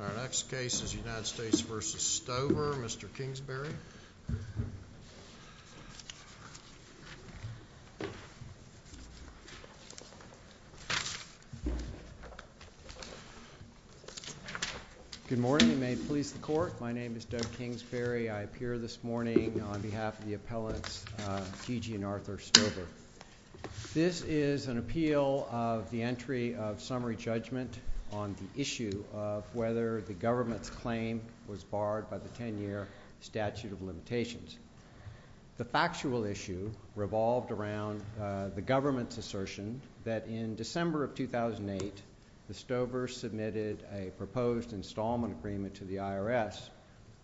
Our next case is United States v. Stover, Mr. Kingsbury. Good morning and may it please the court, my name is Doug Kingsbury, I appear this morning on behalf of the appellants Gigi and Arthur Stover. This is an appeal of the entry of summary judgment on the issue of whether the government's claim was barred by the 10-year statute of limitations. The factual issue revolved around the government's assertion that in December of 2008, the Stovers submitted a proposed installment agreement to the IRS,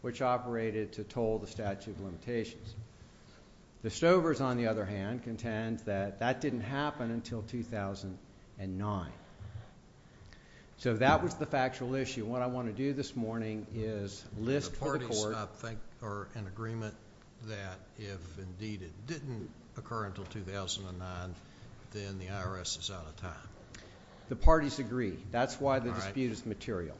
which operated to toll the statute of limitations. The Stovers, on the other hand, contend that that didn't happen until 2009. So that was the factual issue. What I want to do this morning is list for the court. The parties, I think, are in agreement that if indeed it didn't occur until 2009, then the IRS is out of time. The parties agree. That's why the dispute is material.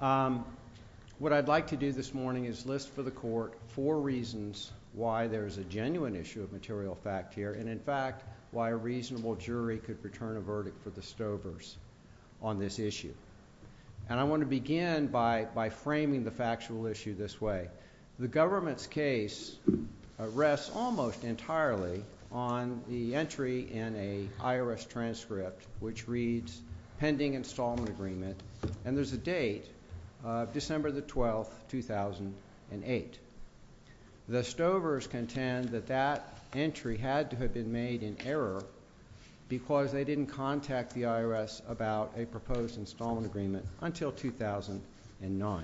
What I'd like to do this morning is list for the court four reasons why there's a genuine issue of material fact here, and in fact, why a reasonable jury could return a verdict for the Stovers on this issue. And I want to begin by framing the factual issue this way. The government's case rests almost entirely on the entry in an IRS transcript which reads pending installment agreement, and there's a date, December the 12th, 2008. The Stovers contend that that entry had to have been made in error because they didn't contact the IRS about a proposed installment agreement until 2009.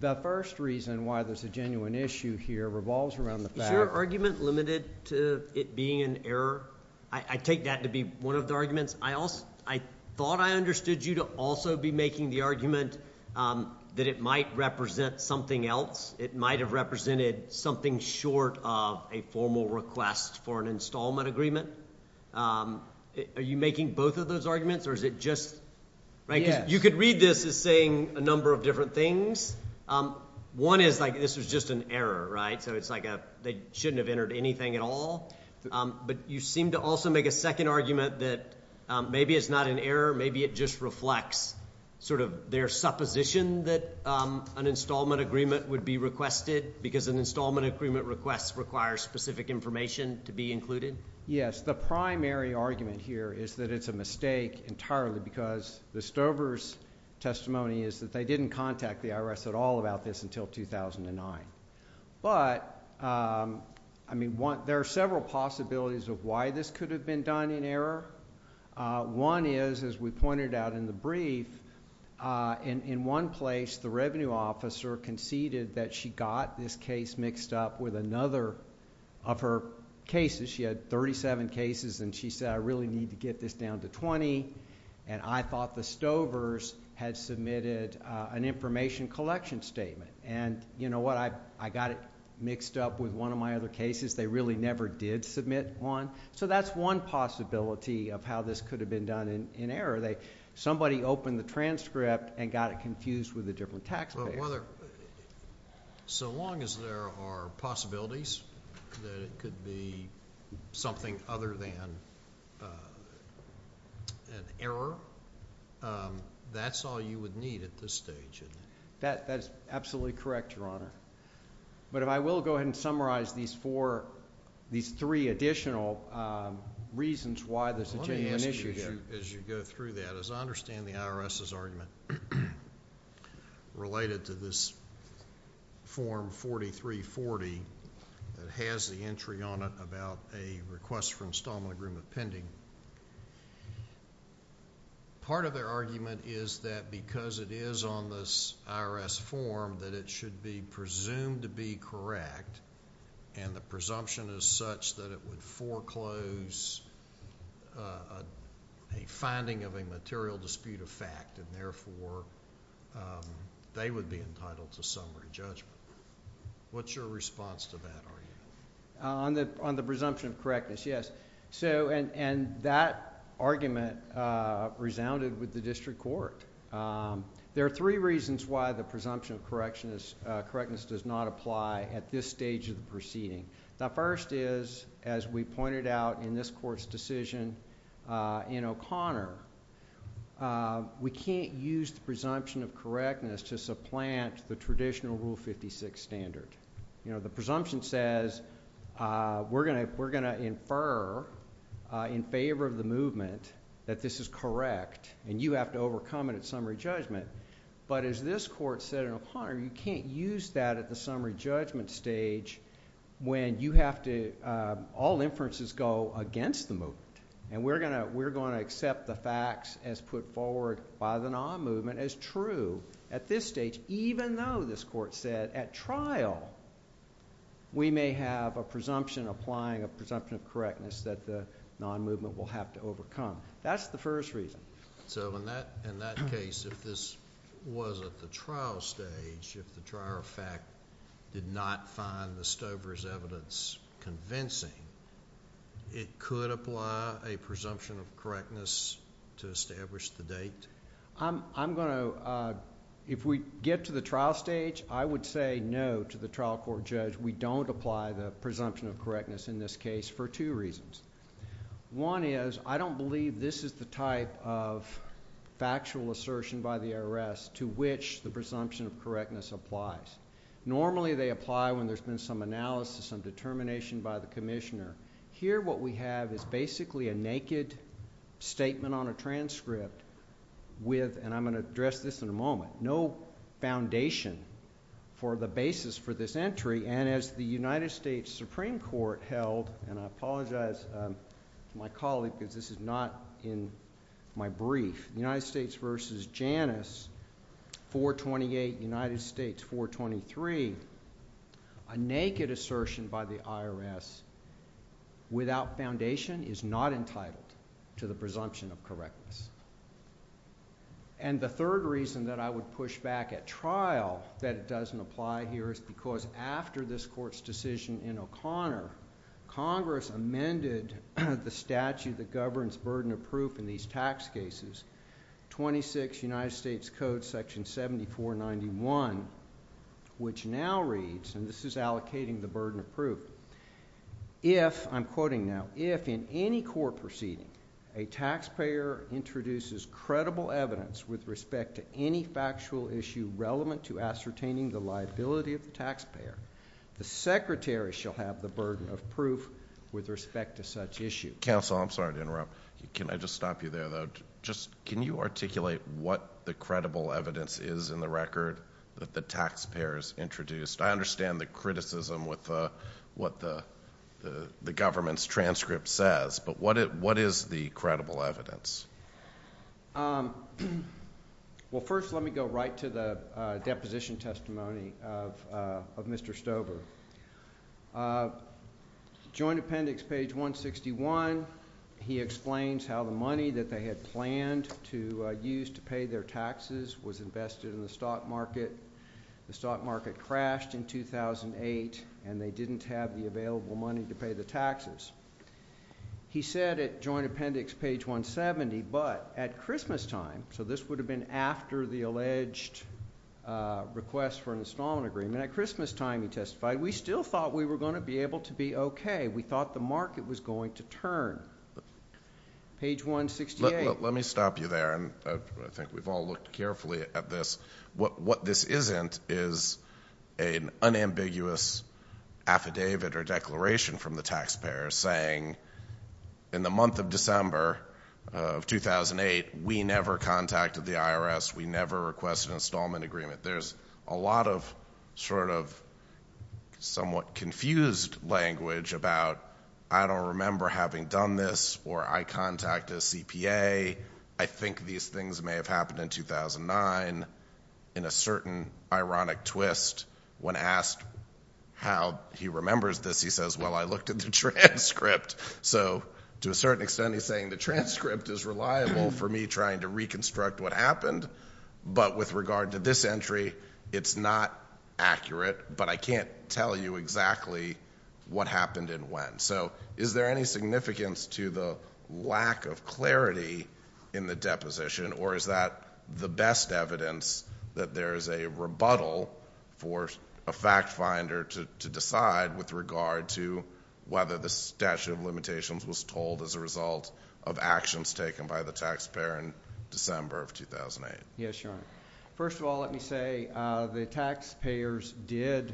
The first reason why there's a genuine issue here revolves around the fact- Is your argument limited to it being an error? I take that to be one of the arguments. I thought I understood you to also be making the argument that it might represent something else. It might have represented something short of a formal request for an installment agreement. Are you making both of those arguments, or is it just- Yes. You could read this as saying a number of different things. One is like this was just an error, right? So it's like they shouldn't have entered anything at all. But you seem to also make a second argument that maybe it's not an error, maybe it just reflects sort of their supposition that an installment agreement would be requested because an installment agreement request requires specific information to be included. Yes. The primary argument here is that it's a mistake entirely because the Stovers' testimony is that they didn't contact the IRS at all about this until 2009. But, I mean, there are several possibilities of why this could have been done in error. One is, as we pointed out in the brief, in one place the revenue officer conceded that she got this case mixed up with another of her cases. She had 37 cases, and she said, I really need to get this down to 20, and I thought the Stovers had submitted an information collection statement. And you know what? I got it mixed up with one of my other cases. They really never did submit one. So that's one possibility of how this could have been done in error. Somebody opened the transcript and got it confused with a different taxpayer. So long as there are possibilities that it could be something other than an error, that's all you would need at this stage. That's absolutely correct, Your Honor. But I will go ahead and summarize these four, these three additional reasons why this is a genuine issue. Let me ask you, as you go through that, as I understand the IRS's argument related to this Form 4340 that has the entry on it about a request for installment agreement pending, part of their argument is that because it is on this IRS form that it should be presumed to be correct, and the presumption is such that it would foreclose a finding of a material dispute of fact, and therefore they would be entitled to summary judgment. What's your response to that argument? On the presumption of correctness, yes. And that argument resounded with the district court. There are three reasons why the presumption of correctness does not apply at this stage of the proceeding. The first is, as we pointed out in this court's decision in O'Connor, we can't use the presumption of correctness to supplant the traditional Rule 56 standard. You know, the presumption says we're going to infer in favor of the movement that this is correct, and you have to overcome it at summary judgment. But as this court said in O'Connor, you can't use that at the summary judgment stage when you have to, all inferences go against the movement. And we're going to accept the facts as put forward by the non-movement as true at this stage, even though this court said at trial we may have a presumption applying a presumption of correctness that the non-movement will have to overcome. That's the first reason. So in that case, if this was at the trial stage, if the trial of fact did not find the Stover's evidence convincing, it could apply a presumption of correctness to establish the date? I'm going to, if we get to the trial stage, I would say no to the trial court judge. We don't apply the presumption of correctness in this case for two reasons. One is, I don't believe this is the type of factual assertion by the IRS to which the presumption of correctness applies. Normally they apply when there's been some analysis, some determination by the Here what we have is basically a naked statement on a transcript with, and I'm going to address this in a moment, no foundation for the basis for this entry. And as the United States Supreme Court held, and I apologize to my colleague because this is not in my brief, United States v. Janus 428, United States 423, a naked assertion by the IRS without foundation is not entitled to the presumption of correctness. And the third reason that I would push back at trial that it doesn't apply here is because after this court's decision in O'Connor, Congress amended the statute that governs burden of proof in these tax cases, 26 United States Code section 7491, which now reads, and this is allocating the burden of proof, if, I'm quoting now, if in any court proceeding a taxpayer introduces credible evidence with respect to any factual issue relevant to ascertaining the liability of the taxpayer, the secretary shall have the burden of proof with respect to such issue. Counsel, I'm sorry to interrupt. Can I just stop you there though? Just, can you articulate what the credible evidence is in the record that the taxpayer has introduced? I understand the criticism with what the government's transcript says, but what is the credible evidence? Well, first let me go right to the deposition testimony of Mr. Stover. Joint appendix, page 161, he explains how the money that they had planned to use to cashed in 2008, and they didn't have the available money to pay the taxes. He said at joint appendix, page 170, but at Christmastime, so this would have been after the alleged request for an installment agreement, at Christmastime he testified, we still thought we were going to be able to be okay. We thought the market was going to turn. Page 168. Let me stop you there, and I think we've all looked carefully at this. What this isn't is an unambiguous affidavit or declaration from the taxpayer saying, in the month of December of 2008, we never contacted the IRS. We never requested an installment agreement. There's a lot of sort of somewhat confused language about, I don't remember having done this, or I contacted CPA. I think these things may have happened in 2009. In a certain ironic twist, when asked how he remembers this, he says, well, I looked at the transcript. So to a certain extent, he's saying the transcript is reliable for me trying to reconstruct what happened, but with regard to this entry, it's not accurate, but I can't tell you exactly what happened and when. So is there any significance to the lack of clarity in the deposition, or is that the best evidence that there is a rebuttal for a fact finder to decide with regard to whether the statute of limitations was told as a result of actions taken by the taxpayer in December of 2008? Yes, Your Honor. First of all, let me say the taxpayers did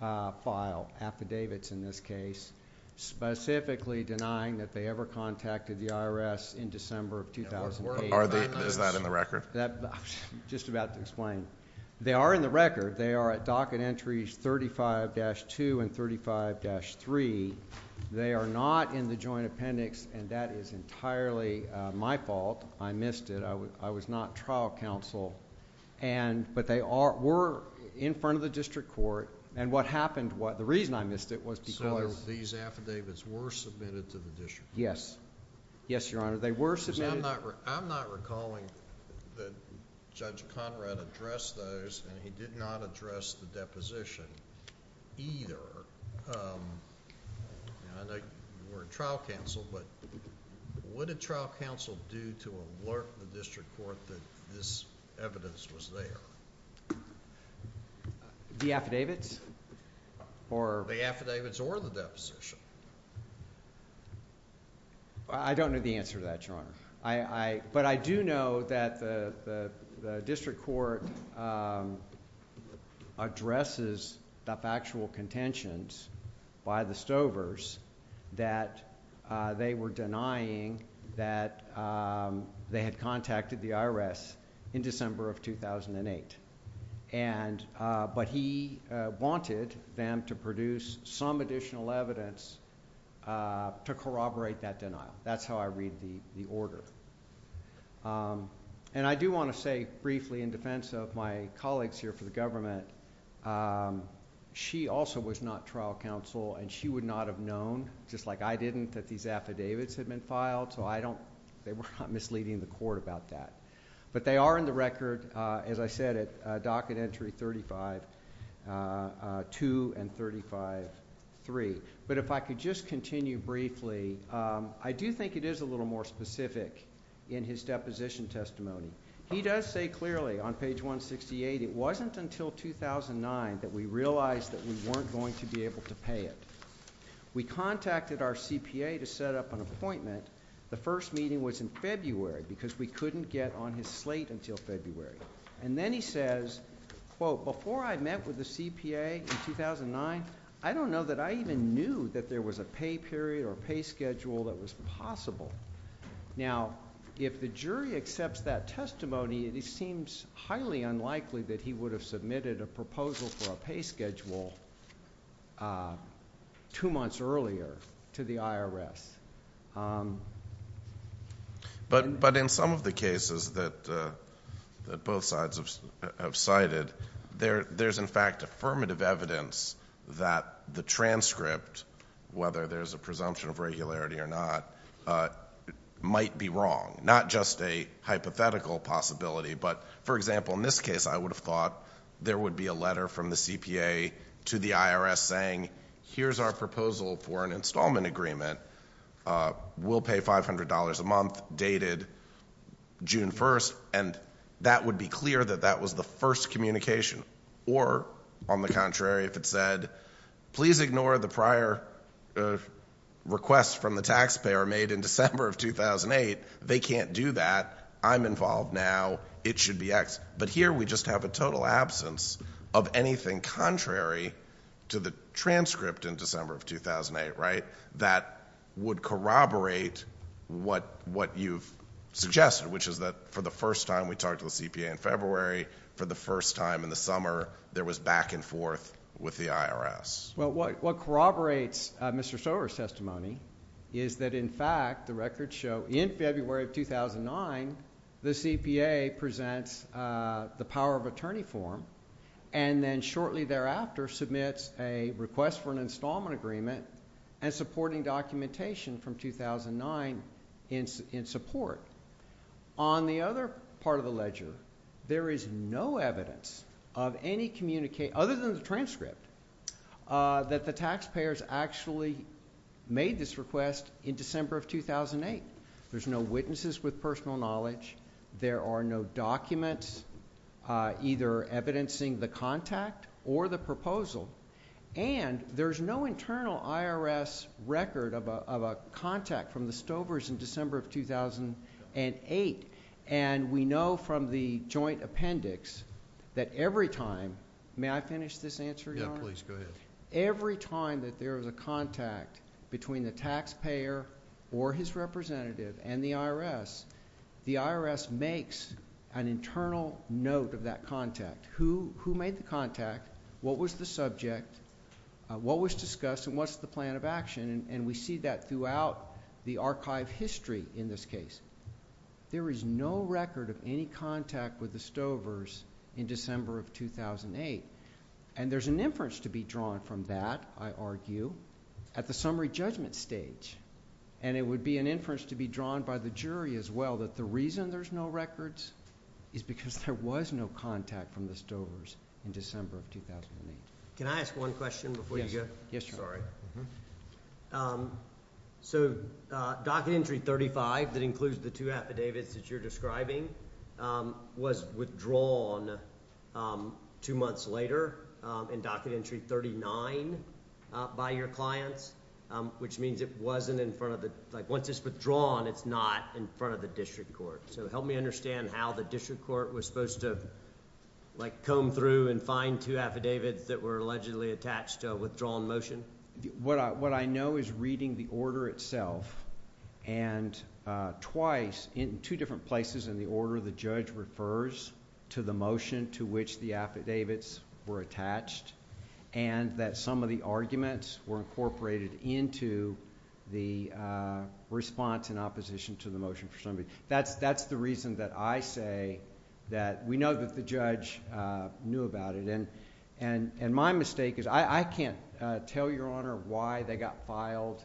file affidavits in this case, specifically denying that they ever contacted the IRS in December of 2008. Is that in the record? I'm just about to explain. They are in the record. They are at docket entries 35-2 and 35-3. They are not in the joint appendix, and that is entirely my fault. I missed it. I was not trial counsel, but they were in front of the district court, and what happened, the reason I missed it was because... So these affidavits were submitted to the district court? Yes. Yes, Your Honor. They were submitted... I'm not recalling that Judge Conrad addressed those, and he did not address the deposition either. I know you weren't trial counsel, but what did trial counsel do to alert the district court that this evidence was there? The affidavits or... The affidavits or the deposition. I don't know the answer to that, Your Honor, but I do know that the district court addresses the factual contentions by the Stovers that they were denying that they had contacted the IRS in December of 2008, but he wanted them to produce some additional evidence to corroborate that denial. That's how I read the order. And I do want to say briefly, in defense of my colleagues here for the government, she also was not trial counsel, and she would not have known, just like I didn't, that these affidavits had been filed, so I don't... they were not misleading the court about that. But they are in the record, as I said, at Docket Entry 35-2 and 35-3. But if I could just continue briefly, I do think it is a little more specific in his deposition testimony. He does say clearly on page 168, it wasn't until 2009 that we realized that we weren't going to be able to pay it. We contacted our CPA to set up an appointment. The first meeting was in February because we couldn't get on his slate until February. And then he says, quote, before I met with the CPA in 2009, I don't know that I even knew that there was a pay period or pay schedule that was possible. Now, if the jury accepts that testimony, it seems highly unlikely that he would have submitted a proposal for a pay schedule two months earlier to the IRS. But in some of the cases that both sides have cited, there's, in fact, affirmative evidence that the transcript, whether there's a presumption of regularity or not, might be wrong, not just a hypothetical possibility. But, for example, in this case, I would have thought there would be a letter from We'll pay $500 a month, dated June 1st. And that would be clear that that was the first communication. Or, on the contrary, if it said, please ignore the prior request from the taxpayer made in December of 2008. They can't do that. I'm involved now. It should be X. But here we just have a total absence of anything contrary to the transcript in December of 2008, right? That would corroborate what you've suggested, which is that for the first time, we talked to the CPA in February. For the first time in the summer, there was back and forth with the IRS. Well, what corroborates Mr. Stover's testimony is that, in fact, the records show in February of 2009, the CPA presents the power of attorney form and then shortly thereafter submits a request for an installment agreement and supporting documentation from 2009 in support. On the other part of the ledger, there is no evidence of any communication, other than the transcript, that the taxpayers actually made this request in December of 2008. There's no witnesses with personal knowledge. There are no documents either evidencing the contact or the proposal. And there's no internal IRS record of a contact from the Stovers in December of 2008. And we know from the joint appendix that every time — may I finish this answer, Yeah, please. Go ahead. Every time that there is a contact between the taxpayer or his representative and the IRS, the IRS makes an internal note of that contact. Who made the contact? What was the subject? What was discussed? And what's the plan of action? And we see that throughout the archive history in this case. There is no record of any contact with the Stovers in December of 2008. And there's an inference to be drawn from that, I argue, at the summary judgment stage. And it would be an inference to be drawn by the jury as well, that the reason there's no records is because there was no contact from the Stovers in December of 2008. Can I ask one question before you go? Yes. Sorry. So, Docket Entry 35, that includes the two affidavits that you're describing, was withdrawn two months later in Docket Entry 39 by your clients, which means it wasn't in front of the... once it's withdrawn, it's not in front of the district court. So, help me understand how the district court was supposed to comb through and find two affidavits that were allegedly attached to a withdrawn motion. What I know is reading the order itself, and twice, in two different places in the order, the judge refers to the motion to which the affidavits were attached, and that some of the arguments were incorporated into the response in opposition to the motion for somebody. That's the reason that I say that we know that the judge knew about it. And my mistake is I can't tell Your Honor why they got filed,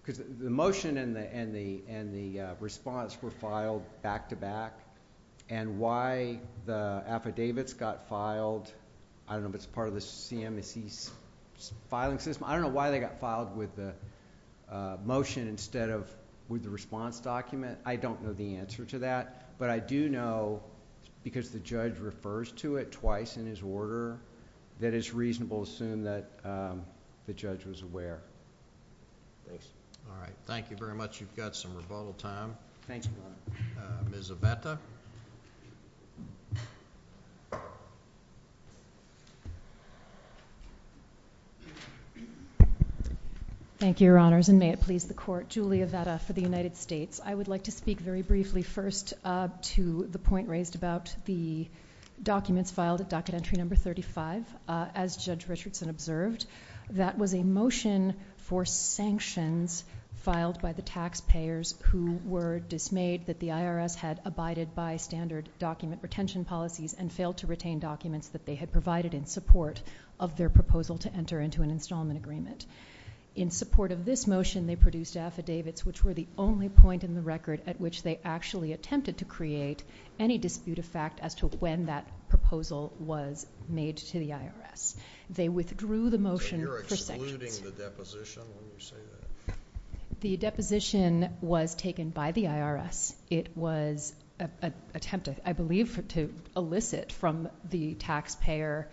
because the motion and the response were filed back to back, and why the affidavits got filed. I don't know if it's part of the CMSC's filing system. I don't know why they got filed with the motion instead of with the response document. I don't know the answer to that, but I do know, because the judge refers to it twice in his order, that it's reasonable to assume that the judge was aware. All right. Thank you very much. You've got some rebuttal time. Thank you, Your Honor. Ms. Aventa? Thank you, Your Honors, and may it please the Court. Julia Aventa for the United States. I would like to speak very briefly first to the point raised about the documents filed at docket entry number 35. As Judge Richardson observed, that was a motion for sanctions filed by the IRS, and that was a motion to introduce a standard agreement for not approved by the IRS. It was approved by standard document retention policies, and failed to retain documents that they had provided in support of their proposal to enter into an installment agreement. In support of this motion, they produced affidavits, which were the only point in the record at which they actually attempted to create any dispute effect as to when that proposal was made to the IRS. They withdrew the motion for sections. So you're excluding the deposition when you say that? The deposition was taken by the IRS. It was an attempt, I believe, to elicit from the taxpayer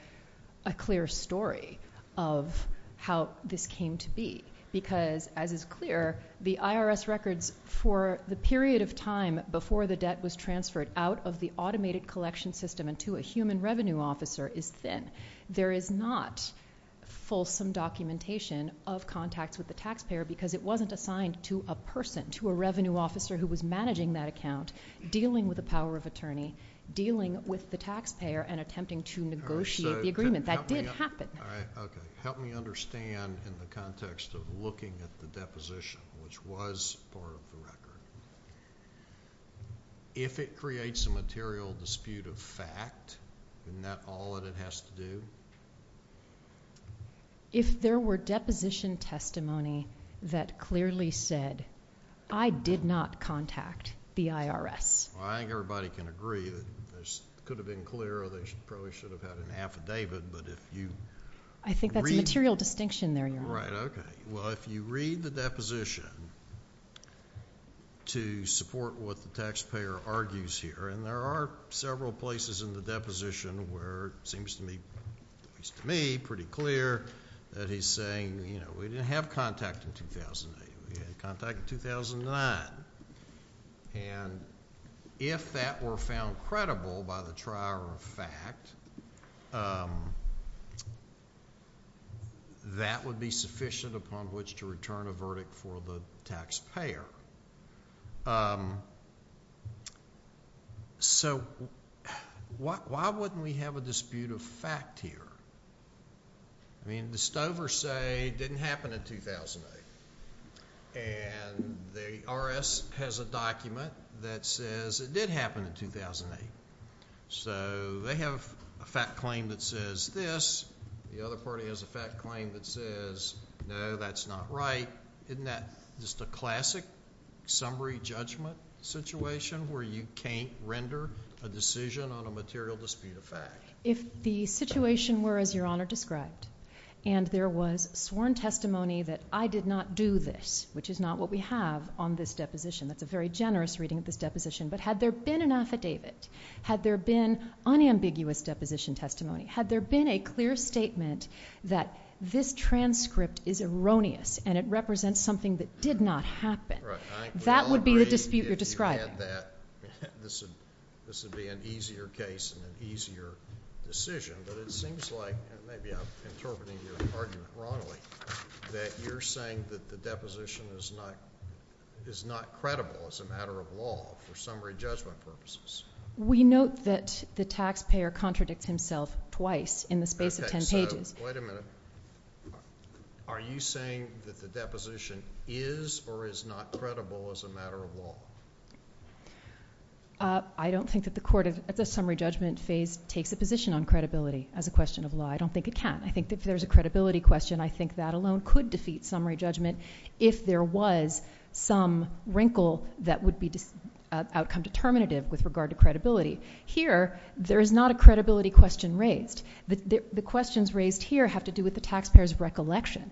a clear story of how this came to be because, as is clear, the IRS records for the period of time before the debt was transferred out of the automated collection system and to a human revenue officer is thin. There is not fulsome documentation of contacts with the taxpayer because it wasn't assigned to a person, to a revenue officer who was managing that account, dealing with the power of attorney, dealing with the taxpayer, and attempting to negotiate the agreement. That didn't happen. All right. Okay. Help me understand in the context of looking at the deposition, which was part of the record. If it creates a material dispute of fact, isn't that all that it has to do? If there were deposition testimony that clearly said, I did not contact the IRS. I think everybody can agree that this could have been clearer. They probably should have had an affidavit. I think that's a material distinction there, Your Honor. Right. Okay. Well, if you read the deposition to support what the taxpayer argues here, and there are several places in the deposition where it seems to me pretty clear that he's saying, you know, we didn't have contact in 2008. We had contact in 2009. And if that were found credible by the trier of fact, that would be the basis on which to return a verdict for the taxpayer. So why wouldn't we have a dispute of fact here? I mean, the Stover say it didn't happen in 2008. And the IRS has a document that says it did happen in 2008. So they have a fact claim that says this. The other party has a fact claim that says, no, that's not right. Isn't that just a classic summary judgment situation where you can't render a decision on a material dispute of fact? If the situation were as Your Honor described, and there was sworn testimony that I did not do this, which is not what we have on this deposition. That's a very generous reading of this deposition. But had there been an affidavit, had there been unambiguous deposition testimony, had there been a clear statement that this transcript is erroneous and it represents something that did not happen, that would be the dispute you're describing. Right. I think we all agree if you had that, this would be an easier case and an easier decision. But it seems like, and maybe I'm interpreting your argument wrongly, that you're saying that the deposition is not credible as a matter of law for summary judgment purposes. We note that the taxpayer contradicts himself twice in the space of ten pages. So, wait a minute. Are you saying that the deposition is or is not credible as a matter of law? I don't think that the court at the summary judgment phase takes a position on credibility as a question of law. I don't think it can. I think if there's a credibility question, I think that alone could defeat summary judgment if there was some wrinkle that would be outcome determinative with regard to credibility. Here, there is not a credibility question raised. The questions raised here have to do with the taxpayer's recollection.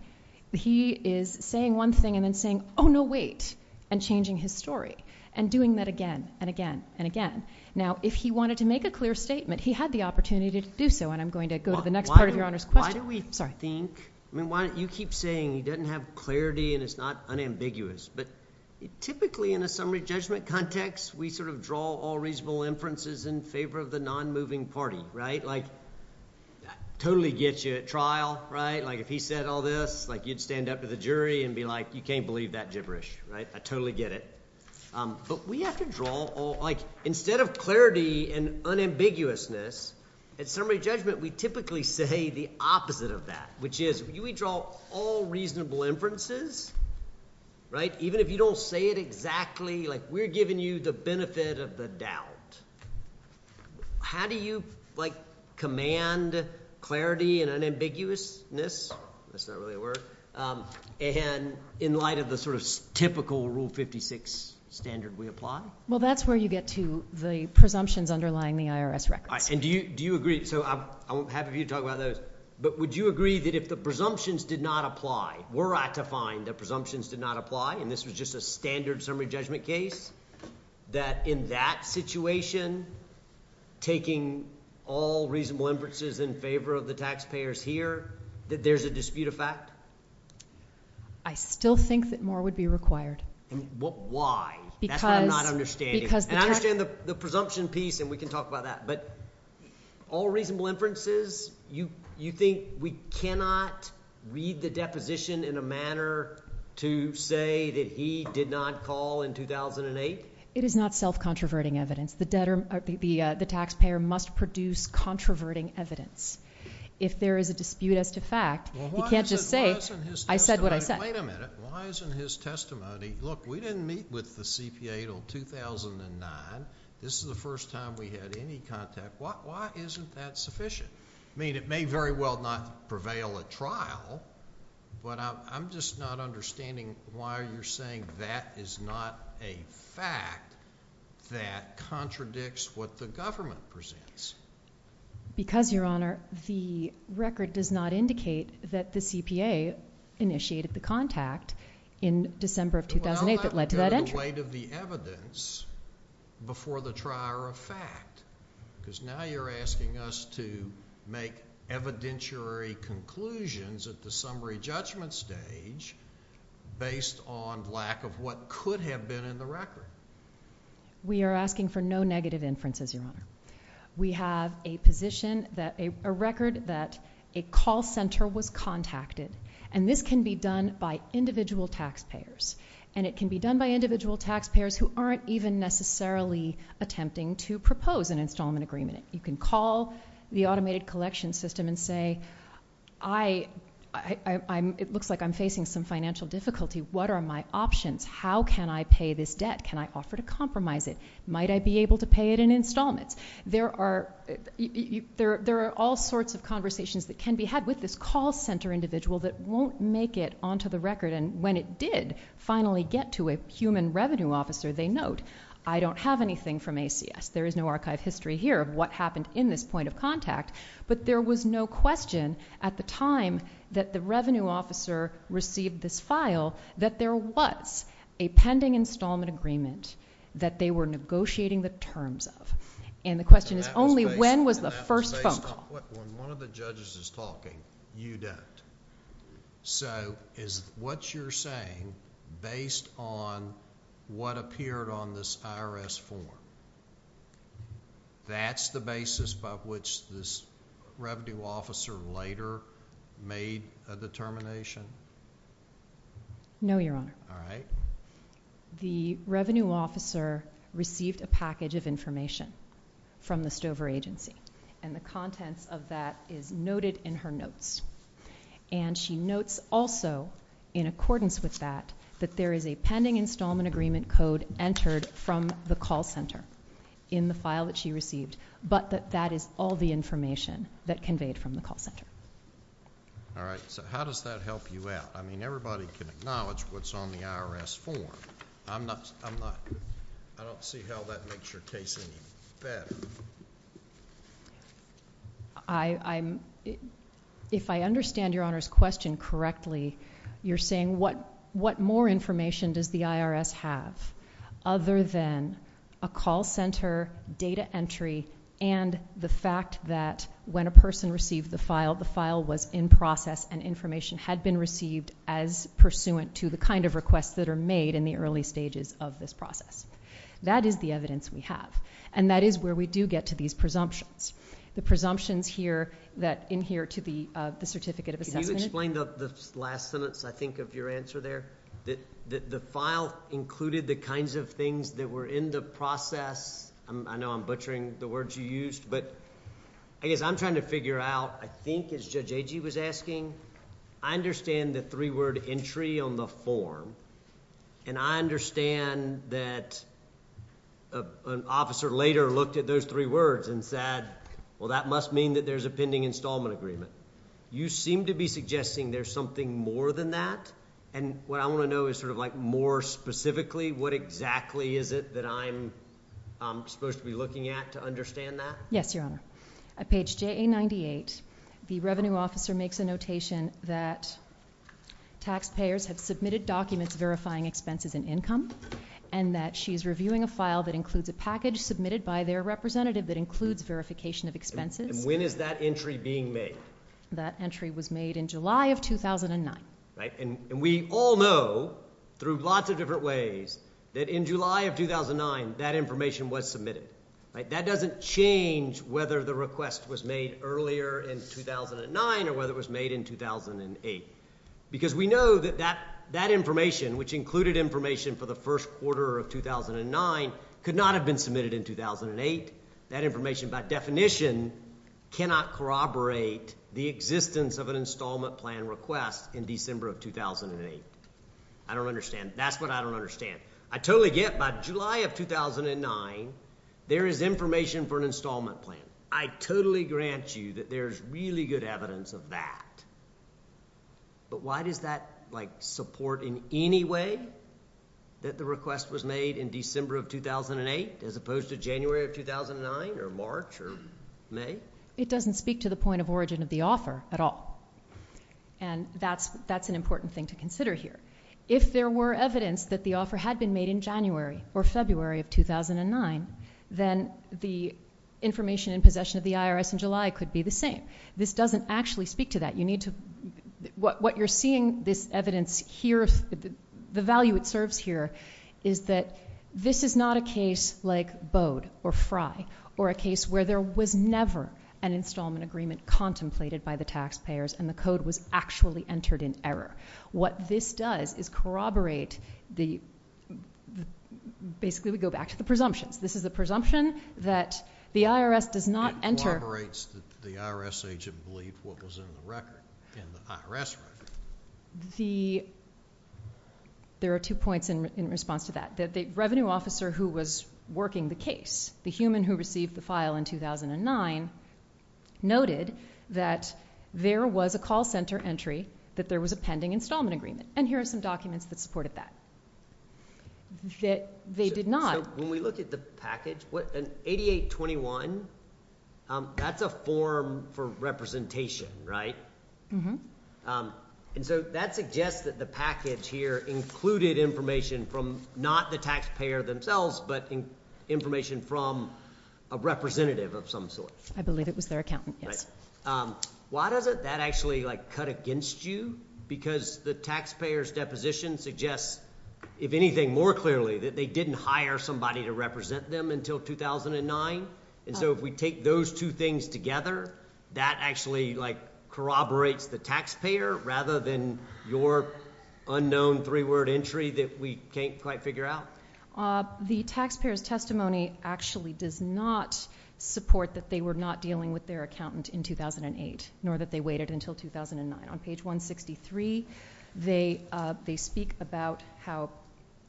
He is saying one thing and then saying, oh, no, wait, and changing his story and doing that again and again and again. Now, if he wanted to make a clear statement, he had the opportunity to do so, and I'm going to go to the next part of Your Honor's question. Why do we think, I mean, you keep saying he doesn't have clarity and it's not unambiguous. But typically in a summary judgment context, we sort of draw all reasonable inferences in favor of the non-moving party, right? Like, totally gets you at trial, right? Like if he said all this, like you'd stand up to the jury and be like, you can't believe that gibberish, right? I totally get it. But we have to draw all, like instead of clarity and unambiguousness, at summary judgment, we typically say the opposite of that, which is we draw all reasonable inferences, right, even if you don't say it exactly, like we're giving you the benefit of the doubt. How do you, like, command clarity and unambiguousness? That's not really a word. And in light of the sort of typical Rule 56 standard we apply? Well, that's where you get to the presumptions underlying the IRS records. And do you agree? So I'm happy for you to talk about those. But would you agree that if the presumptions did not apply, were I to find that presumptions did not apply and this was just a standard summary judgment case, that in that situation, taking all reasonable inferences in favor of the taxpayers here, that there's a dispute of fact? I still think that more would be required. Why? That's what I'm not understanding. And I understand the presumption piece, and we can talk about that. But all reasonable inferences, you think we cannot read the deposition in a manner to say that he did not call in 2008? It is not self-controverting evidence. The taxpayer must produce controverting evidence. If there is a dispute as to fact, he can't just say, I said what I said. Wait a minute. Why isn't his testimony, look, we didn't meet with the CPA until 2009. This is the first time we had any contact. Why isn't that sufficient? I mean, it may very well not prevail at trial, but I'm just not understanding why you're saying that is not a fact that contradicts what the government presents. Because, Your Honor, the record does not indicate that the CPA initiated the contact in December of 2008 that led to that entry. The weight of the evidence before the trier of fact. Because now you're asking us to make evidentiary conclusions at the summary judgment stage based on lack of what could have been in the record. We are asking for no negative inferences, Your Honor. We have a position that a record that a call center was contacted, and this can be done by individual taxpayers. And it can be done by individual taxpayers who aren't even necessarily attempting to propose an installment agreement. You can call the automated collection system and say, it looks like I'm facing some financial difficulty. What are my options? How can I pay this debt? Can I offer to compromise it? Might I be able to pay it in installments? There are all sorts of conversations that can be had with this call center individual that won't make it onto the record. And when it did finally get to a human revenue officer, they note, I don't have anything from ACS. There is no archive history here of what happened in this point of contact. But there was no question at the time that the revenue officer received this file that there was a pending installment agreement that they were negotiating the terms of. And the question is only when was the first phone call. When one of the judges is talking, you don't. So is what you're saying based on what appeared on this IRS form, that's the basis by which this revenue officer later made a determination? No, Your Honor. All right. The revenue officer received a package of information from the Stover agency. And the contents of that is noted in her notes. And she notes also, in accordance with that, that there is a pending installment agreement code entered from the call center in the file that she received, but that that is all the information that conveyed from the call center. All right. So how does that help you out? I mean, everybody can acknowledge what's on the IRS form. I don't see how that makes your case any better. If I understand Your Honor's question correctly, you're saying what more information does the IRS have other than a call center, data entry, and the fact that when a person received the file, the file was in process and information had been received as pursuant to the kind of requests that are made in the early stages of this process. That is the evidence we have. And that is where we do get to these presumptions. The presumptions here that adhere to the certificate of assessment. Can you explain the last sentence, I think, of your answer there? The file included the kinds of things that were in the process. I know I'm butchering the words you used. But I guess I'm trying to figure out, I think, as Judge Agee was asking, I understand the three-word entry on the form. And I understand that an officer later looked at those three words and said, well, that must mean that there's a pending installment agreement. You seem to be suggesting there's something more than that. And what I want to know is sort of like more specifically, what exactly is it that I'm supposed to be looking at to understand that? Yes, Your Honor. At page JA-98, the revenue officer makes a notation that taxpayers have submitted documents verifying expenses and income, and that she's reviewing a file that includes a package submitted by their representative that includes verification of expenses. And when is that entry being made? That entry was made in July of 2009. And we all know, through lots of different ways, that in July of 2009, that information was submitted. That doesn't change whether the request was made earlier in 2009 or whether it was submitted in 2008. Because we know that that information, which included information for the first quarter of 2009, could not have been submitted in 2008. That information, by definition, cannot corroborate the existence of an installment plan request in December of 2008. I don't understand. That's what I don't understand. I totally get by July of 2009, there is information for an installment plan. I totally grant you that there is really good evidence of that. But why does that support in any way that the request was made in December of 2008 as opposed to January of 2009 or March or May? It doesn't speak to the point of origin of the offer at all. And that's an important thing to consider here. If there were evidence that the offer had been made in January or February of the possession of the IRS in July, it could be the same. This doesn't actually speak to that. What you're seeing this evidence here, the value it serves here, is that this is not a case like Bode or Fry or a case where there was never an installment agreement contemplated by the taxpayers and the code was actually entered in error. What this does is corroborate the, basically we go back to the presumptions. This is a presumption that the IRS does not enter. It corroborates that the IRS agent believed what was in the record, in the IRS record. There are two points in response to that. The revenue officer who was working the case, the human who received the file in 2009, noted that there was a call center entry that there was a pending installment agreement. And here are some documents that supported that. That they did not. When we look at the package, an 8821, that's a form for representation, right? Mm-hmm. That suggests that the package here included information from not the taxpayer themselves, but information from a representative of some sort. I believe it was their accountant, yes. Why doesn't that actually cut against you? Because the taxpayer's deposition suggests, if anything more clearly, that they didn't hire somebody to represent them until 2009. And so if we take those two things together, that actually corroborates the taxpayer rather than your unknown three-word entry that we can't quite figure out? The taxpayer's testimony actually does not support that they were not dealing with their accountant in 2008, nor that they waited until 2009. On page 163, they speak about how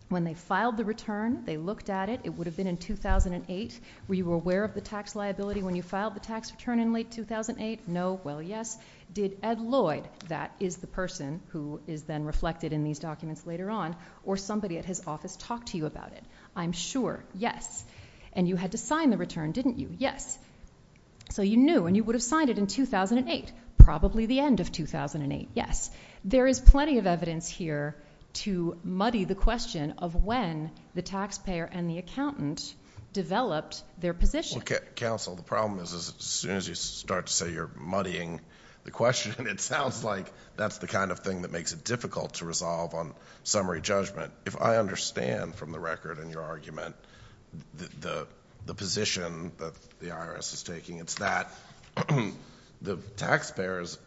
when they filed the return, they looked at it. It would have been in 2008. Were you aware of the tax liability when you filed the tax return in late 2008? No. Well, yes. Did Ed Lloyd, that is the person who is then reflected in these documents later on, or somebody at his office talk to you about it? I'm sure. Yes. And you had to sign the return, didn't you? Yes. So you knew, and you would have signed it in 2008. Probably the end of 2008. Yes. There is plenty of evidence here to muddy the question of when the taxpayer and the accountant developed their position. Well, counsel, the problem is as soon as you start to say you're muddying the question, it sounds like that's the kind of thing that makes it difficult to resolve on summary judgment. If I understand from the record in your argument the position that the IRS is that the taxpayers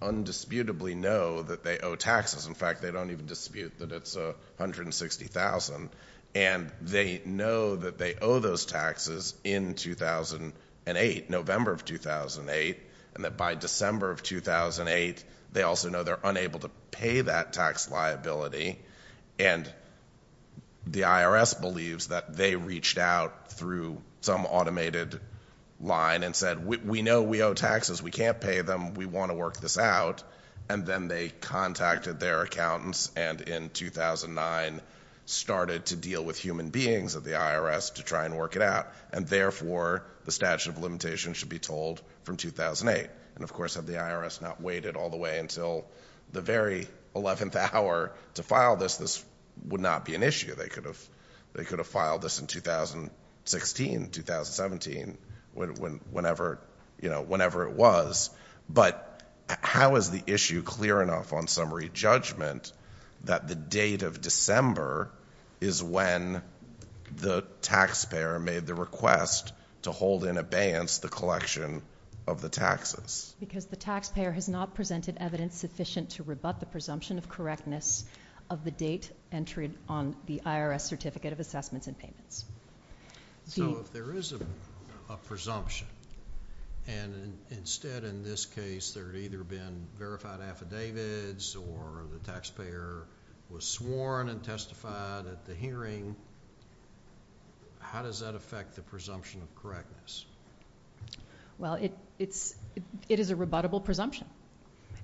undisputably know that they owe taxes. In fact, they don't even dispute that it's $160,000. And they know that they owe those taxes in 2008, November of 2008, and that by December of 2008, they also know they're unable to pay that tax liability. And the IRS believes that they reached out through some automated line and said, we know we owe taxes, we can't pay them, we want to work this out. And then they contacted their accountants and in 2009 started to deal with human beings at the IRS to try and work it out. And therefore, the statute of limitations should be told from 2008. And, of course, had the IRS not waited all the way until the very 11th hour to file this, this would not be an issue. They could have filed this in 2016, 2017, whenever it was. But how is the issue clear enough on summary judgment that the date of December is when the taxpayer made the request to hold in abeyance the collection of the taxes? Because the taxpayer has not presented evidence sufficient to rebut the IRS certificate of assessments and payments. So if there is a presumption and instead in this case there had either been verified affidavits or the taxpayer was sworn and testified at the hearing, how does that affect the presumption of correctness? Well, it is a rebuttable presumption.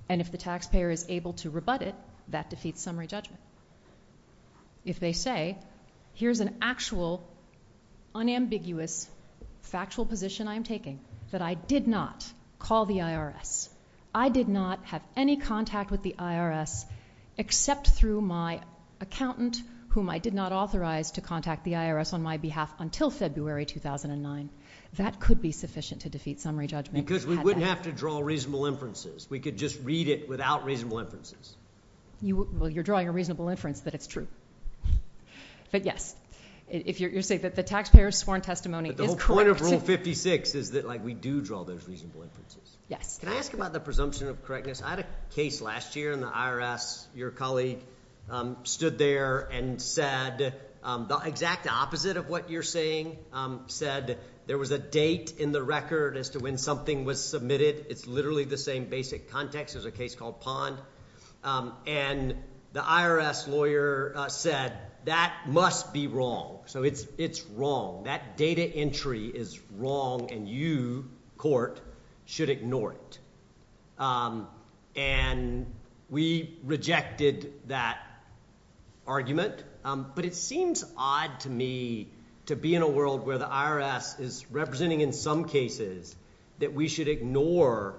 And if the taxpayer is able to rebut it, that defeats summary judgment. If they say, here is an actual, unambiguous, factual position I am taking that I did not call the IRS, I did not have any contact with the IRS except through my accountant whom I did not authorize to contact the IRS on my behalf until February 2009, that could be sufficient to defeat summary judgment. Because we wouldn't have to draw reasonable inferences. We could just read it without reasonable inferences. Well, you are drawing a reasonable inference that it is true. But yes, you are saying that the taxpayer's sworn testimony is correct. But the whole point of Rule 56 is that we do draw those reasonable inferences. Yes. Can I ask about the presumption of correctness? I had a case last year in the IRS. Your colleague stood there and said the exact opposite of what you are saying, said there was a date in the record as to when something was submitted. It is literally the same basic context. There is a case called Pond. And the IRS lawyer said that must be wrong. So it is wrong. That data entry is wrong and you, court, should ignore it. And we rejected that argument. But it seems odd to me to be in a world where the IRS is representing in some cases that we should ignore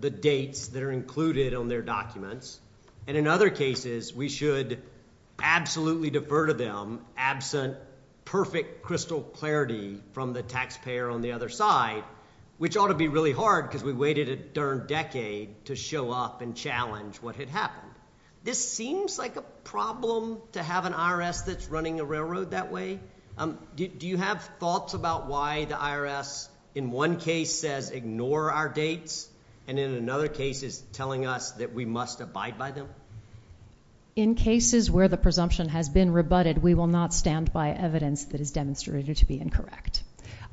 the dates that are included on their documents. And in other cases, we should absolutely defer to them, absent perfect crystal clarity from the taxpayer on the other side, which ought to be really hard because we waited a darn decade to show up and challenge what had happened. This seems like a problem to have an IRS that is running a railroad that way. Do you have thoughts about why the IRS in one case says ignore our dates and in another case is telling us that we must abide by them? In cases where the presumption has been rebutted, we will not stand by evidence that is demonstrated to be incorrect.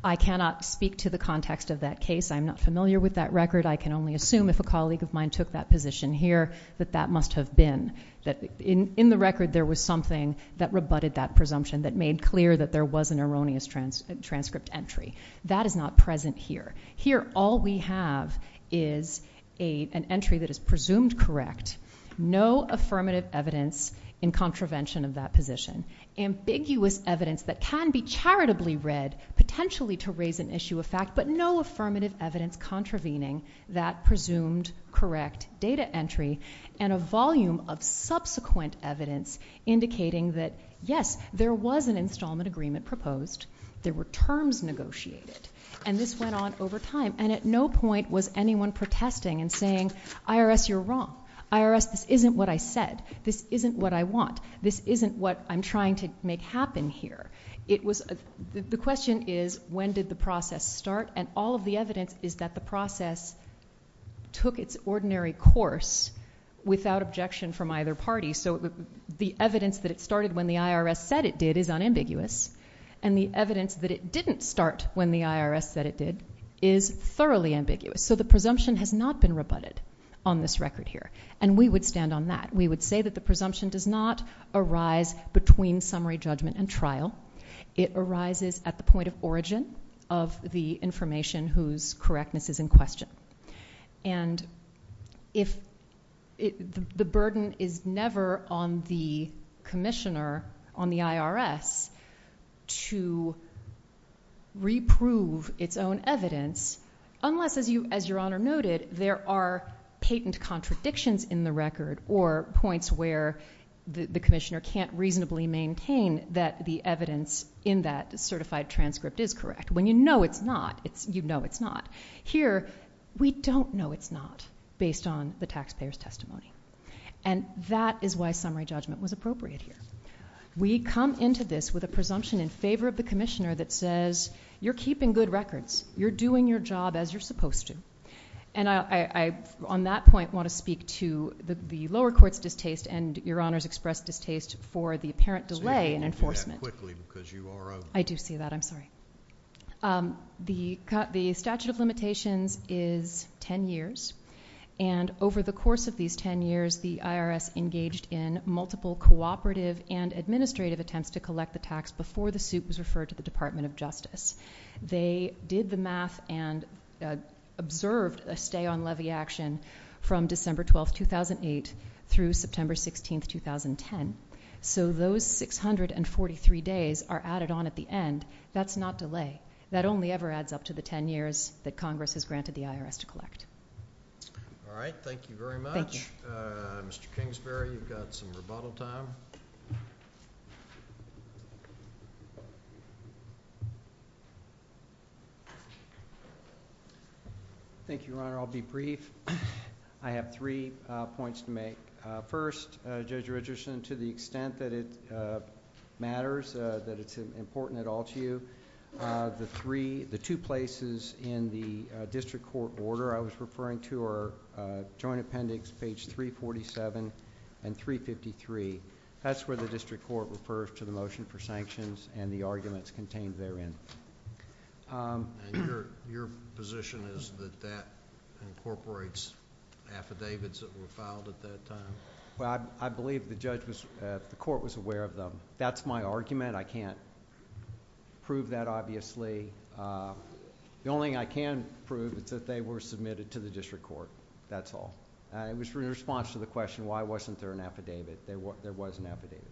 I cannot speak to the context of that case. I'm not familiar with that record. I can only assume if a colleague of mine took that position here that that must have been. In the record, there was something that rebutted that presumption, that made clear that there was an erroneous transcript entry. That is not present here. Here, all we have is an entry that is presumed correct, no affirmative evidence in contravention of that position, ambiguous evidence that can be charitably read, potentially to raise an issue of fact, but no affirmative evidence contravening that presumed correct data entry, and a volume of subsequent evidence indicating that, yes, there was an installment agreement proposed. There were terms negotiated, and this went on over time, and at no point was anyone protesting and saying, IRS, you're wrong. IRS, this isn't what I said. This isn't what I want. This isn't what I'm trying to make happen here. The question is when did the process start, and all of the evidence is that the process took its ordinary course without objection from either party. So the evidence that it started when the IRS said it did is unambiguous, and the evidence that it didn't start when the IRS said it did is thoroughly ambiguous. So the presumption has not been rebutted on this record here, and we would stand on that. We would say that the presumption does not arise between summary judgment and trial. It arises at the point of origin of the information whose correctness is in question. And the burden is never on the commissioner, on the IRS, to reprove its own evidence unless, as Your Honor noted, there are patent contradictions in the record or points where the commissioner can't reasonably maintain that the evidence in that certified transcript is correct. When you know it's not, you know it's not. Here we don't know it's not based on the taxpayer's testimony, and that is why summary judgment was appropriate here. We come into this with a presumption in favor of the commissioner that says, you're keeping good records. You're doing your job as you're supposed to. And I, on that point, want to speak to the lower court's distaste and Your Honor's expressed distaste for the apparent delay in enforcement. I do see that. I'm sorry. The statute of limitations is ten years, and over the course of these ten years, the IRS engaged in multiple cooperative and administrative attempts to collect the tax before the suit was referred to the Department of Justice. They did the math and observed a stay on levy action from December 12, 2008, through September 16, 2010. So those 643 days are added on at the end. That's not delay. That only ever adds up to the ten years that Congress has granted the IRS to collect. All right. Thank you very much. Thank you. Mr. Kingsbury, you've got some rebuttal time. Thank you, Your Honor. I'll be brief. I have three points to make. First, Judge Richardson, to the extent that it matters, that it's important at all to you, the two places in the district court order I was referring to are Joint Appendix page 347 and 353. That's where the district court refers to the motion for sanctions and the arguments contained therein. Your position is that that incorporates affidavits that were filed at that time? I believe the court was aware of them. That's my argument. I can't prove that, obviously. The only thing I can prove is that they were submitted to the district court. That's all. It was in response to the question, why wasn't there an affidavit? There was an affidavit.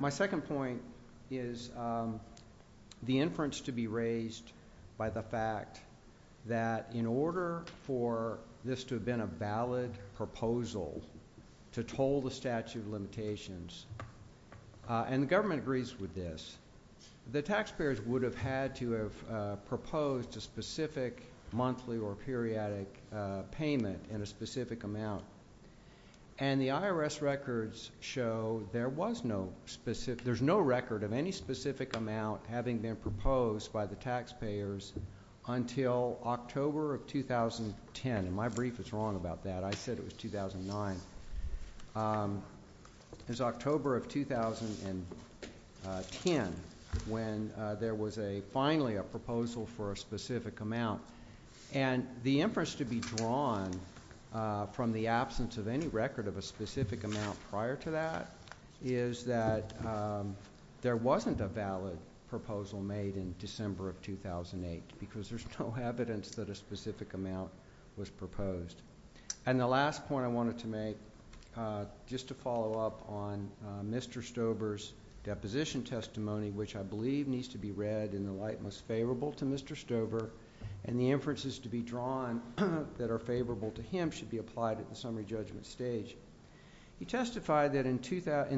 My second point is the inference to be raised by the fact that in order for this to have been a valid proposal to toll the statute of limitations, and the government agrees with this, the taxpayers would have had to have proposed a specific monthly or periodic payment in a specific amount. And the IRS records show there's no record of any specific amount having been proposed by the taxpayers until October of 2010. My brief is wrong about that. I said it was 2009. It was October of 2010 when there was finally a proposal for a specific amount. And the inference to be drawn from the absence of any record of a specific amount prior to that is that there wasn't a valid proposal made in December of 2008 because there's no evidence that a specific amount was proposed. And the last point I wanted to make, just to follow up on Mr. Stober's deposition testimony, which I believe needs to be read in the light most favorable to Mr. Stober, and the inferences to be drawn that are favorable to him should be applied at the summary judgment stage. He testified that in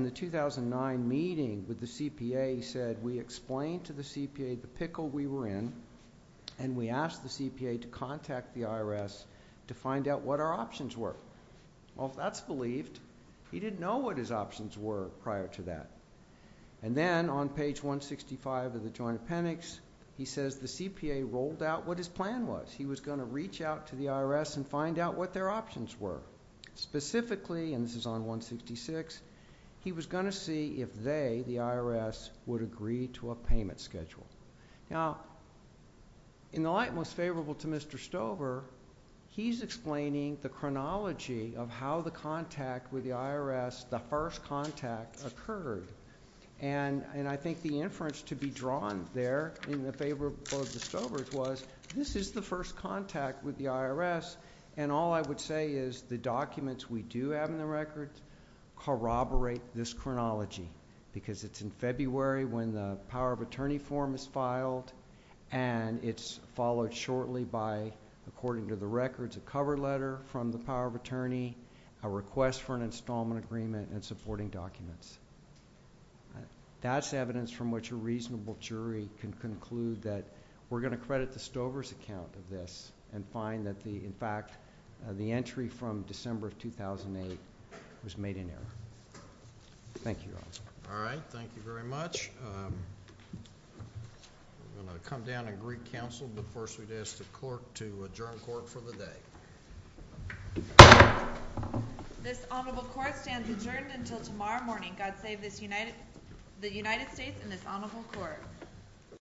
the 2009 meeting with the CPA, he said, we explained to the CPA the pickle we were in, and we asked the CPA to contact the IRS to find out what our options were. Well, if that's believed, he didn't know what his options were prior to that. And then on page 165 of the Joint Appendix, he says the CPA rolled out what his plan was. He was going to reach out to the IRS and find out what their options were. Specifically, and this is on 166, he was going to see if they, the IRS, would agree to a payment schedule. Now, in the light most favorable to Mr. Stober, he's explaining the chronology of how the contact with the IRS, the first contact, occurred. And I think the inference to be drawn there in favor of Mr. Stober's was, this is the first contact with the IRS, and all I would say is the documents we do have in the record corroborate this chronology, because it's in February when the Power of Attorney form is filed, and it's followed shortly by, according to the records, a cover letter from the Power of Attorney, a request for an installment agreement, and supporting documents. That's evidence from which a reasonable jury can conclude that we're going to credit the Stober's account of this and find that, in fact, the entry from December of 2008 was made in error. Thank you, Your Honor. All right, thank you very much. I'm going to come down and greet counsel, but first we'd ask the court to adjourn court for the day. This honorable court stands adjourned until tomorrow morning. God save the United States and this honorable court.